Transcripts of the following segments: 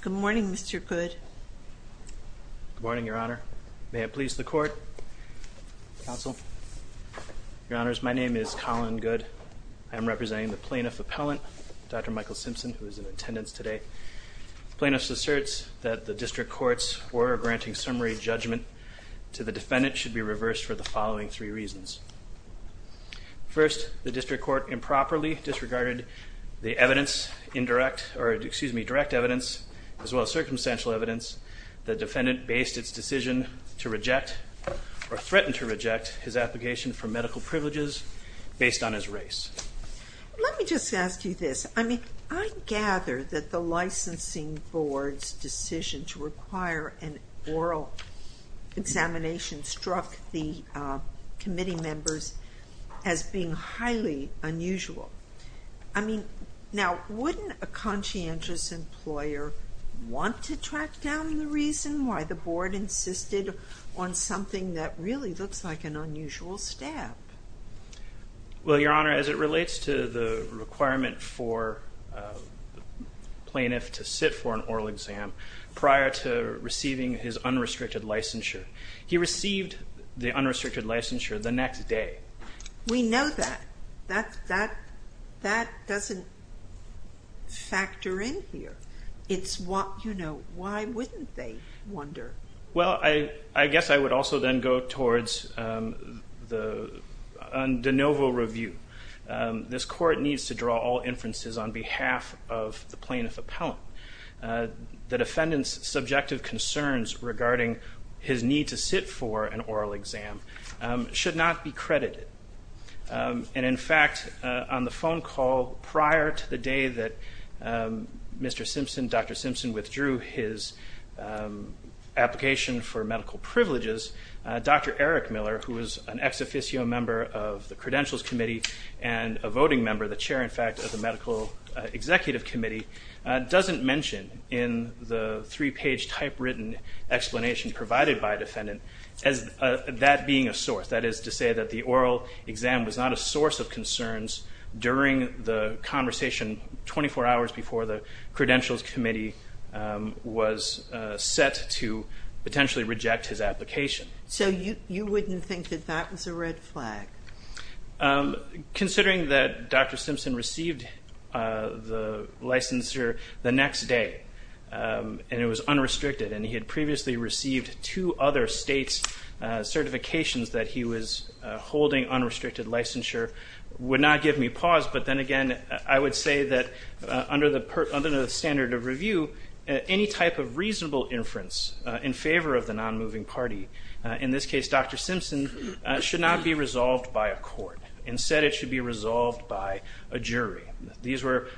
Good morning, Mr. Goode. Good morning, Your Honor. May it please the court, counsel. Your Honors, my name is Colin Goode. I am representing the plaintiff appellant, Dr. Michael Simpson, who is in attendance today. Plaintiffs asserts that the district courts were granting summary judgment to the defendant should be reversed for the following three reasons. First, the district court improperly the evidence indirect, or excuse me, direct evidence, as well as circumstantial evidence, the defendant based its decision to reject or threatened to reject his application for medical privileges based on his race. Let me just ask you this. I mean, I gather that the licensing board's decision to require an oral examination struck the committee members as being highly unusual. I mean, now, wouldn't a conscientious employer want to track down the reason why the board insisted on something that really looks like an unusual step? Well, Your Honor, as it relates to the requirement for plaintiff to sit for an oral exam prior to receiving his unrestricted licensure, he received the unrestricted licensure the next day. We know that. That doesn't factor in here. It's what, you know, why wouldn't they wonder? Well, I guess I would also then go towards the de novo review. This court needs to draw all inferences on behalf of the plaintiff appellant. The defendant's subjective concerns regarding his need to sit for an oral exam should not be credited. And, in fact, on the phone call prior to the day that Mr. Simpson, Dr. Simpson, withdrew his application for medical privileges, Dr. Eric Miller, who is an ex officio member of the Credentials Committee and a voting member, the chair, in fact, of the Medical Executive Committee, doesn't mention in the three-page typewritten explanation provided by defendant as that being a source. That is to say that the oral exam was not a source of concerns during the conversation 24 hours before the Credentials Committee was set to potentially reject his application. So you wouldn't think that that was a red flag? Considering that Dr. Simpson received the licensure the next day and it was two other states' certifications that he was holding unrestricted licensure, would not give me pause. But then again, I would say that under the standard of review, any type of reasonable inference in favor of the non-moving party, in this case Dr. Simpson, should not be resolved by a court. Instead, it should be resolved by a jury. These were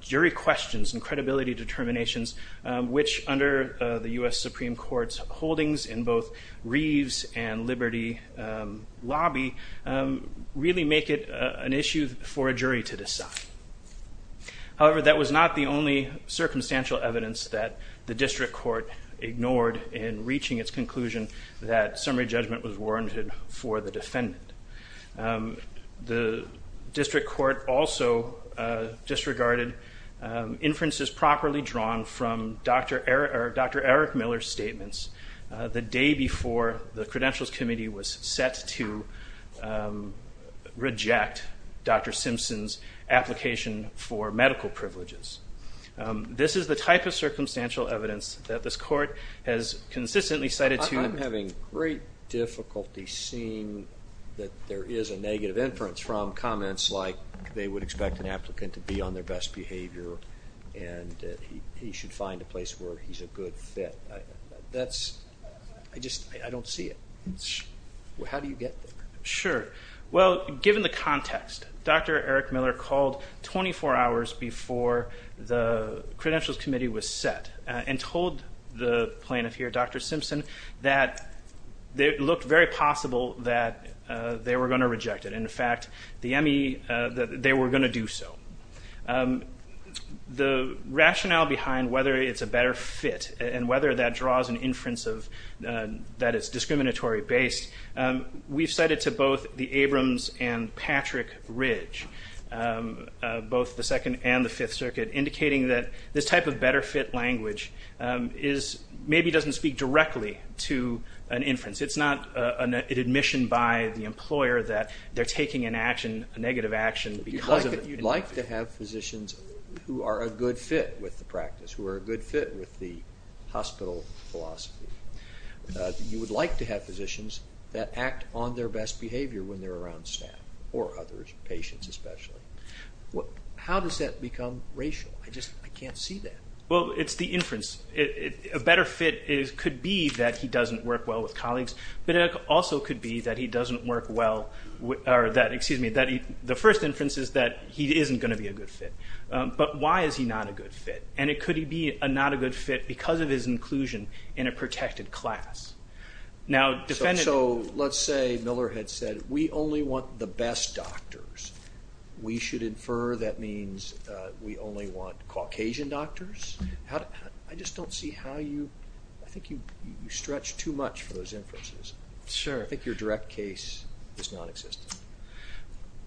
jury questions and credibility determinations, which under the U.S. Supreme Court's holdings in both Reeves and Liberty lobby, really make it an issue for a jury to decide. However, that was not the only circumstantial evidence that the District Court ignored in reaching its conclusion that summary judgment was warranted for the defendant. The District Court also disregarded inferences properly drawn from Dr. Eric Miller's statements the day before the Credentials Committee was set to reject Dr. Simpson's application for medical privileges. This is the type of circumstantial evidence that this court has consistently cited to... that there is a negative inference from comments like they would expect an applicant to be on their best behavior and he should find a place where he's a good fit. That's... I just, I don't see it. How do you get there? Sure. Well, given the context, Dr. Eric Miller called 24 hours before the Credentials Committee was set and told the plaintiff here, Dr. Simpson, that it they were going to reject it. In fact, the M.E., that they were going to do so. The rationale behind whether it's a better fit and whether that draws an inference of... that it's discriminatory based, we've cited to both the Abrams and Patrick Ridge, both the Second and the Fifth Circuit, indicating that this type of better fit language is... maybe doesn't speak directly to an inference. It's not an admission by the employer that they're taking an action, a negative action, because of... You'd like to have physicians who are a good fit with the practice, who are a good fit with the hospital philosophy. You would like to have physicians that act on their best behavior when they're around staff or others, patients especially. What... how does that become racial? I just, I can't see that. Well, it's the inference. A better fit is... could be that he doesn't work well with colleagues, but it also could be that he doesn't work well with... or that, excuse me, that he... the first inference is that he isn't going to be a good fit. But why is he not a good fit? And it could be a not a good fit because of his inclusion in a protected class. Now... So let's say Miller had said, we only want the best doctors. We should infer that means we only want Caucasian doctors. How... I just don't see how you... I think you stretch too much for those inferences. Sure. I think your direct case is non-existent.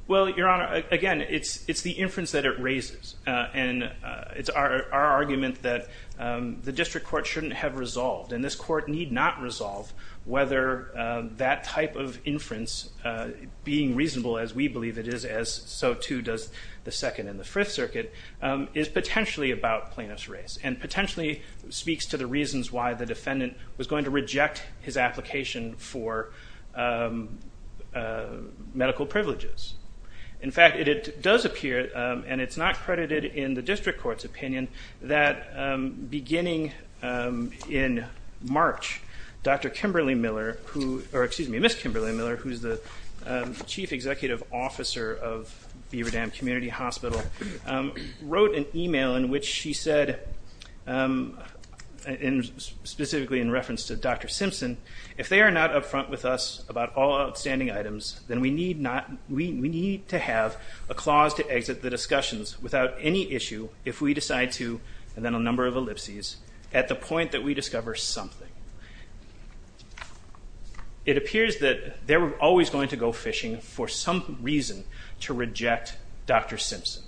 Well, Your Honor, again it's the inference that it raises, and it's our argument that the district court shouldn't have resolved, and this court need not resolve whether that type of inference, being reasonable as we believe it is, as so too does the Second and the Fifth Circuit, is potentially about plaintiff's race and potentially speaks to the reasons why the defendant was going to reject his application for medical privileges. In fact, it does appear, and it's not credited in the district court's opinion, that beginning in March, Dr. Kimberly Miller, who... or excuse me, Ms. Kimberly Miller, who's the chief executive officer of Beaverdam Community Hospital, wrote an email in which she said, and specifically in reference to Dr. Simpson, if they are not upfront with us about all outstanding items, then we need not... we need to have a clause to exit the discussions without any issue if we decide to, and then a number of ellipses, at the point that we discover something. It appears that they were always going to go fishing for some reason to reject Dr. Simpson.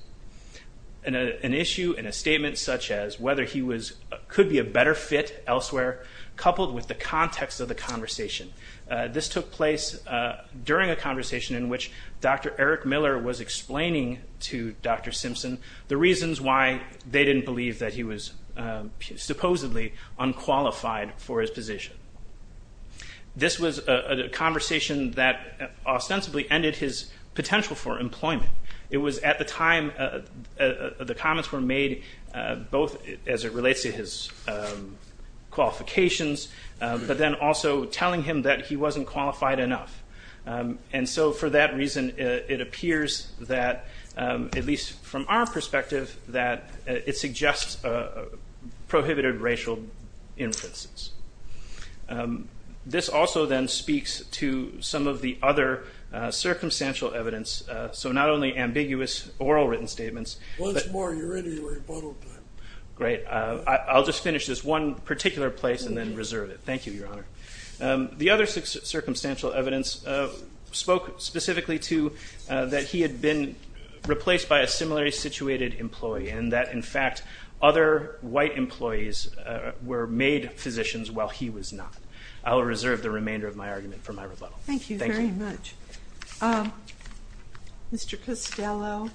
An issue and a statement such as whether he was... could be a better fit elsewhere, coupled with the context of the conversation. This took place during a conversation in which Dr. Eric Miller was explaining to Dr. Simpson the reasons why they didn't believe that he was supposedly unqualified for his position. This was a conversation that ostensibly ended his potential for employment. It was at the time the comments were made, both as it relates to his qualifications, but then also telling him that he wasn't qualified enough. And so for that reason, it appears that, at least from our perspective, that it suggests a prohibited racial inferences. This also then speaks to some of the other circumstantial evidence, so not only ambiguous oral written statements... Once more, you're in your rebuttal time. Great. I'll just finish this one particular place and then reserve it. Thank you, Your Honor. The other circumstantial evidence spoke specifically to that he had been replaced by a similarly situated employee, and that, in fact, other white Thank you very much. Mr. Costello,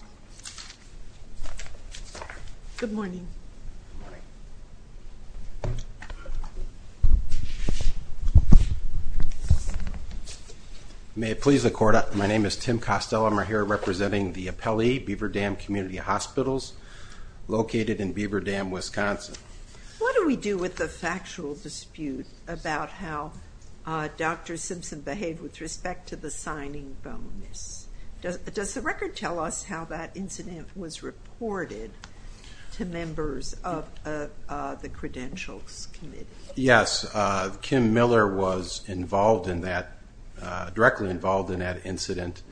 good morning. Good morning. May it please the Court, my name is Tim Costello. I'm here representing the Appellee Beaver Dam Community Hospitals, located in Beaver Dam, Wisconsin. What do we do with the factual dispute about how Dr. Simpson behaved with respect to the signing bonus? Does the record tell us how that incident was reported to members of the Credentials Committee? Yes, Kim Miller was involved in that, directly involved in that incident,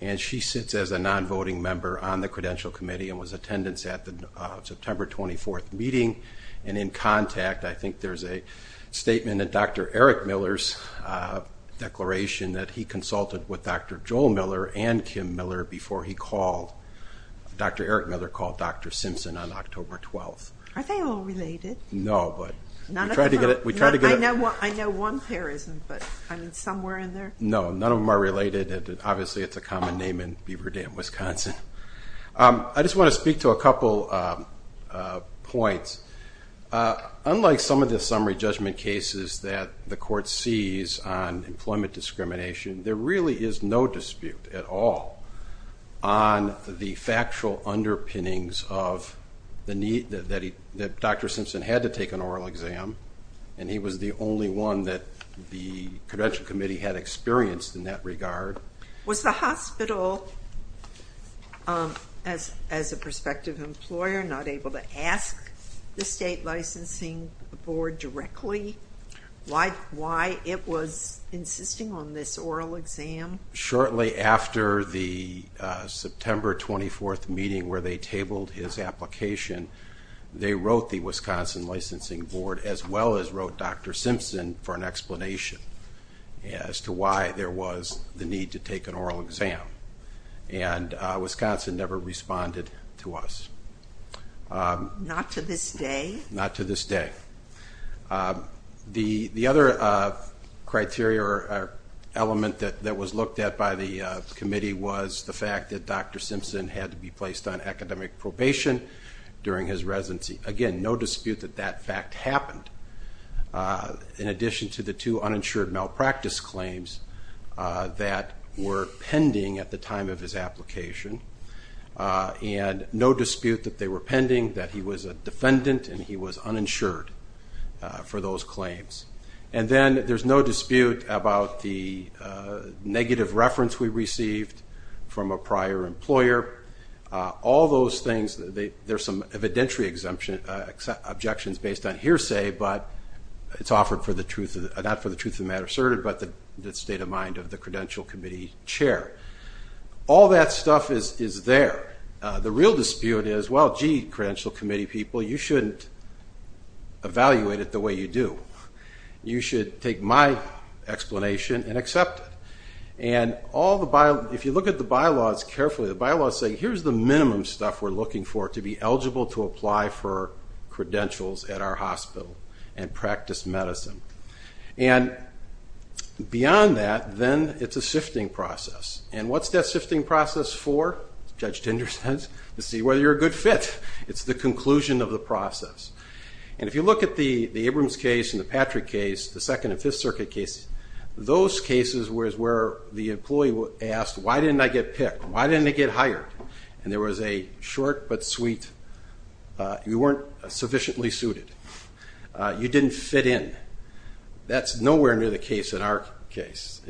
and she sits as a non-voting member on the Credential Committee and was in attendance at the September 24th meeting and in contact. I think there's a statement in Dr. Eric Miller's declaration that he consulted with Dr. Joel Miller and Kim Miller before he called. Dr. Eric Miller called Dr. Simpson on October 12th. Are they all related? No, but we tried to get... I know one pair isn't, but somewhere in there? No, none of them are related. Obviously, it's a common name in Beaver Dam, Wisconsin. I just want to speak to a couple points. Unlike some of the summary judgment cases that the Court sees on employment discrimination, there really is no dispute at all on the factual underpinnings of the need that Dr. Simpson had to take an oral exam, and he was the only one that the Credential Committee had experienced in that regard. Was the hospital, as a prospective employer, not able to ask the State Licensing Board directly why it was insisting on this oral exam? Shortly after the September 24th meeting where they tabled his application, they wrote the Wisconsin Licensing Board, as well as wrote Dr. Simpson, for an explanation as to why there was the need to take an oral exam, and Wisconsin never responded to us. Not to this day? Not to this day. The other criteria or element that was looked at by the committee was the fact that Dr. Simpson had to be placed on academic probation during his residency. Again, no dispute that that fact happened, in addition to the two uninsured malpractice claims that were pending at the time of his application, and no dispute that they were pending that he was a defendant and he was uninsured for those claims. And then there's no dispute about the negative reference we received from a prior employer. All those things, there's some evidentiary objections based on hearsay, but it's offered not for the truth of the matter asserted, but the state of mind of the Credential Committee Chair. All that stuff is there. The real dispute is, well, gee, Credential Committee people, you shouldn't evaluate it the way you do. You should take my explanation and accept it. And if you look at the bylaws carefully, the bylaws say, here's the minimum stuff we're looking for to be eligible to apply for credentials at our hospital and practice medicine. And beyond that, then it's a sifting process. And what's that sifting process for? Judge Dinder says, to see whether you're a good fit. It's the conclusion of the process. And if you look at the Abrams case and the Patrick case, the Second and Fifth Circuit cases, those cases was where the employee asked, why didn't I get picked? Why didn't I get hired? And there was a short but sweet, you weren't sufficiently suited. You didn't fit in. That's nowhere near the case in our case.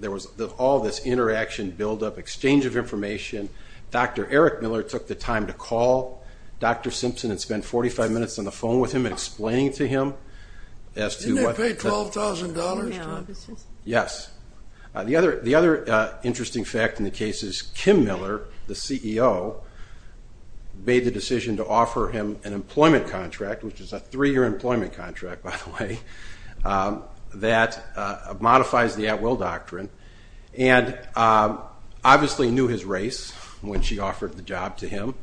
There was all this interaction, buildup, exchange of information. Dr. Eric Miller took the time to call Dr. Simpson and spend 45 minutes on the phone with him and explaining to him. Didn't they pay $12,000? Yes. The other interesting fact in the case is Kim Miller, the CEO, made the decision to offer him an employment contract, which is a three-year employment contract, by the way, that modifies the at-will doctrine, and obviously knew his race when she offered the job to him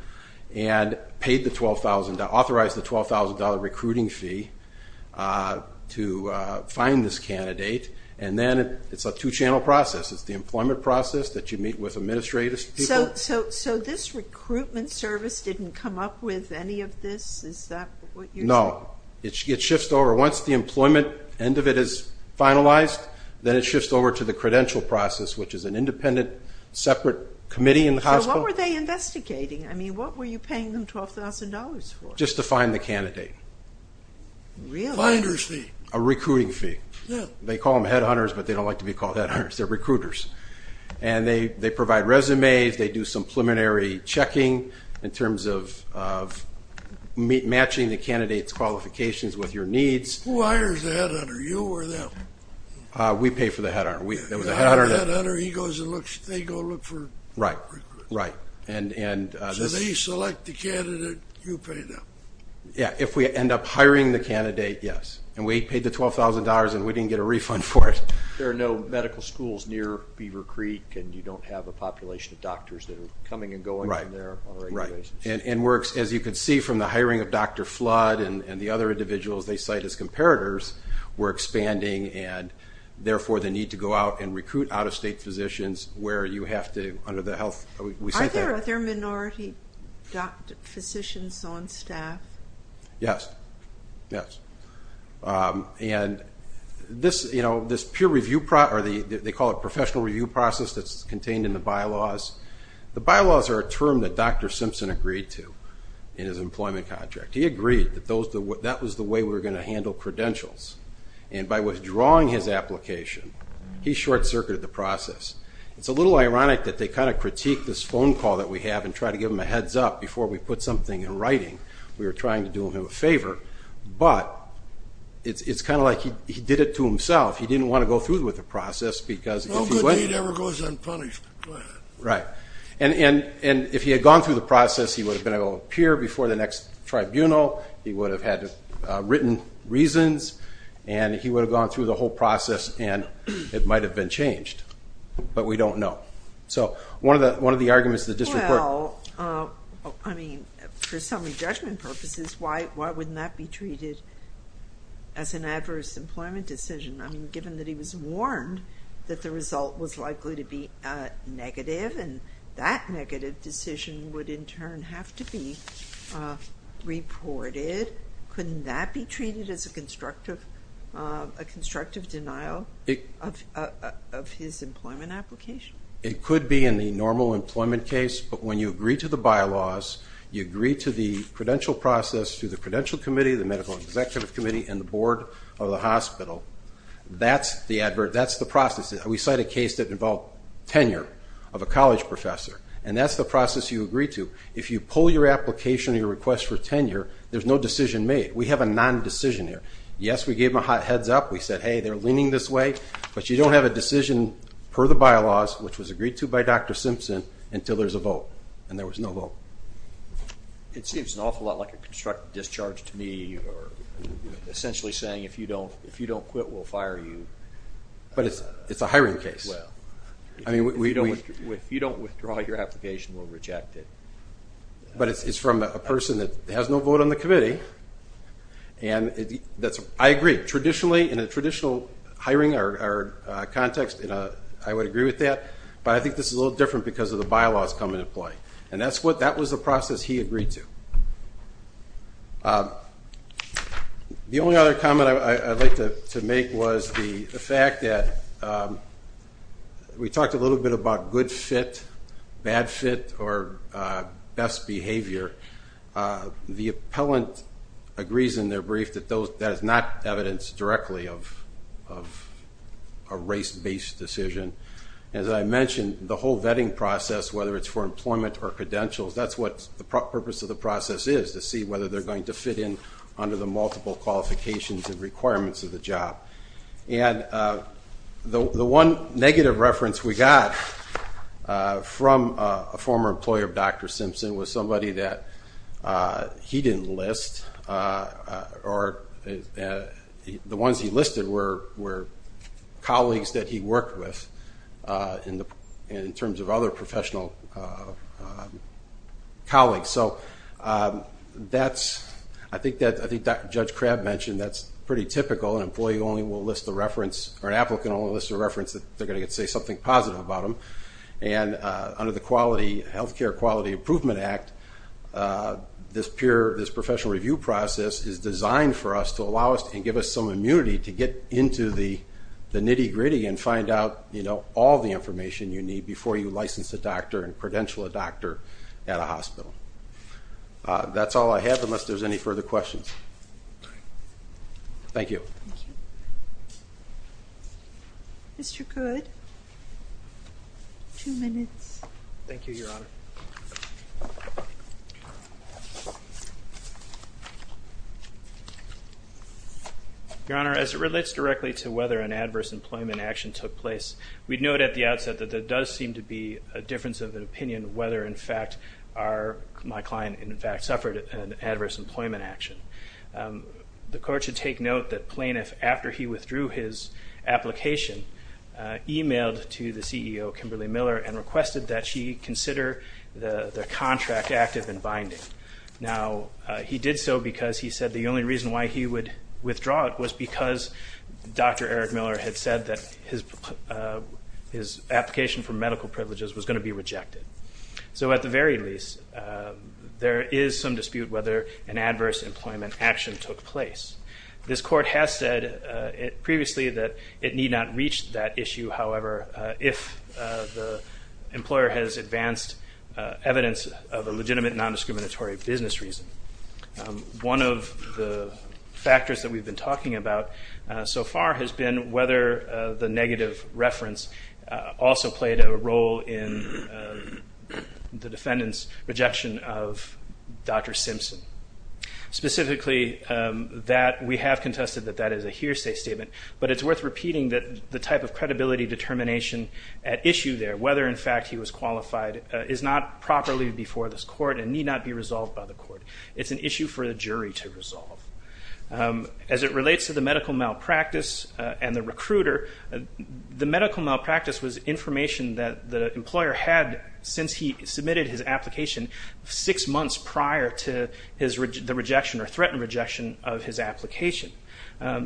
and paid the $12,000, authorized the $12,000 recruiting fee to find this candidate. And then it's a two-channel process. It's the employment process that you meet with administrative people. So this recruitment service didn't come up with any of this? Is that what you're saying? No, it shifts over. Once the employment end of it is finalized, then it shifts over to the credential process, which is an independent, separate committee in the hospital. What were they investigating? I mean, what were you paying them $12,000 for? Just to find the candidate. Really? Finder's fee. A recruiting fee. Yeah. They call them headhunters, but they don't like to be called headhunters. They're recruiters. And they provide resumes, they do some preliminary checking in terms of matching the candidate's qualifications with your needs. Who hires the headhunter, you or them? We pay for the headhunter. The headhunter, he goes and they go look for recruiters. Right, right. So they select the candidate, you pay them. Yeah, if we end up hiring the candidate, yes. And we paid the $12,000, and we didn't get a refund for it. There are no medical schools near Beaver Creek, and you don't have a population of doctors that are coming and going from there. Right, right. And as you can see from the hiring of Dr. Flood and the other individuals they cite as comparators, we're expanding and, therefore, they need to go out and recruit out-of-state physicians where you have to, under the health. Are there minority physicians on staff? Yes, yes. And this peer review process, or they call it professional review process that's contained in the bylaws. The bylaws are a term that Dr. Simpson agreed to in his employment contract. He agreed that that was the way we were going to handle credentials. And by withdrawing his application, he short-circuited the process. It's a little ironic that they kind of critique this phone call that we have and try to give him a heads-up before we put something in writing. We were trying to do him a favor. But it's kind of like he did it to himself. He didn't want to go through with the process because if he went. No good deed ever goes unpunished. Right, and if he had gone through the process, he would have been able to appear before the next tribunal. He would have had written reasons, and he would have gone through the whole process, and it might have been changed. But we don't know. So one of the arguments that this report. Well, I mean, for summary judgment purposes, why wouldn't that be treated as an adverse employment decision? I mean, given that he was warned that the result was likely to be negative, and that negative decision would in turn have to be reported, couldn't that be treated as a constructive denial of his employment application? It could be in the normal employment case, but when you agree to the bylaws, you agree to the credential process through the Credential Committee, the Medical Executive Committee, and the Board of the hospital. That's the process. We cite a case that involved tenure of a college professor, and that's the process you agree to. If you pull your application, your request for tenure, there's no decision made. We have a non-decision here. Yes, we gave them a heads up. We said, hey, they're leaning this way, but you don't have a decision per the bylaws, which was agreed to by Dr. Simpson, until there's a vote, and there was no vote. It seems an awful lot like a constructive discharge to me, essentially saying if you don't quit, we'll fire you. But it's a hiring case. If you don't withdraw your application, we'll reject it. But it's from a person that has no vote on the committee, and I agree. Traditionally, in a traditional hiring context, I would agree with that, but I think this is a little different because of the bylaws come into play, and that was the process he agreed to. The only other comment I'd like to make was the fact that we talked a little bit about good fit, bad fit, or best behavior. The appellant agrees in their brief that that is not evidence directly of a race-based decision. As I mentioned, the whole vetting process, whether it's for employment or credentials, that's what the purpose of the process is, to see whether they're going to fit in under the multiple qualifications and requirements of the job. The one negative reference we got from a former employer of Dr. Simpson was somebody that he didn't list, or the ones he listed were colleagues that he worked with in terms of other professional colleagues. I think Judge Crabb mentioned that's pretty typical. An employee only will list the reference, or an applicant only lists the reference that they're going to get to say something positive about them. Under the Health Care Quality Improvement Act, this professional review process is designed for us to allow us and give us some immunity to get into the nitty-gritty and find out all the information you need before you license a doctor and credential a doctor at a hospital. That's all I have unless there's any further questions. Thank you. Mr. Goode, two minutes. Thank you, Your Honor. Your Honor, as it relates directly to whether an adverse employment action took place, we'd note at the outset that there does seem to be a difference of opinion whether, in fact, my client suffered an adverse employment action. The Court should take note that Plaintiff, after he withdrew his application, emailed to the CEO, Kimberly Miller, and requested that she consider the contract active and binding. Now, he did so because he said the only reason why he would withdraw it was because Dr. Eric Miller had said that his application for medical privileges was going to be rejected. So at the very least, there is some dispute whether an adverse employment action took place. This Court has said previously that it need not reach that issue, however, if the employer has advanced evidence of a legitimate nondiscriminatory business reason. One of the factors that we've been talking about so far has been whether the negative reference also played a role in the defendant's rejection of Dr. Simpson. Specifically, we have contested that that is a hearsay statement, but it's worth repeating that the type of credibility determination at issue there, whether, in fact, he was qualified, is not properly before this Court and need not be resolved by the Court. It's an issue for the jury to resolve. As it relates to the medical malpractice and the recruiter, the medical malpractice was information that the employer had since he submitted his application six months prior to the rejection or threatened rejection of his application.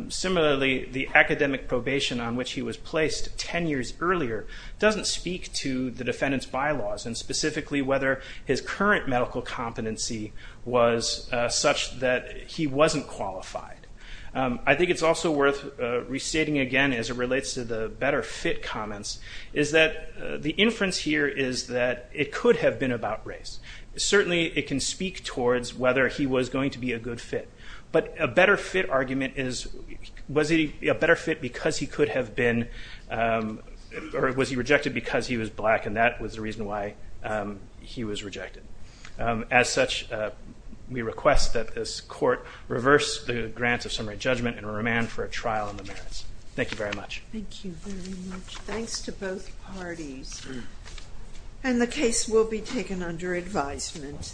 Similarly, the academic probation on which he was placed ten years earlier doesn't speak to the defendant's bylaws, and specifically whether his current medical competency was such that he wasn't qualified. I think it's also worth restating again, as it relates to the better fit comments, is that the inference here is that it could have been about race. Certainly, it can speak towards whether he was going to be a good fit, but a better fit argument is was he a better fit because he could have been or was he rejected because he was black, and that was the reason why he was rejected. As such, we request that this Court reverse the grants of summary judgment and remand for a trial on the merits. Thank you very much. Thank you very much. Thanks to both parties. And the case will be taken under advisement.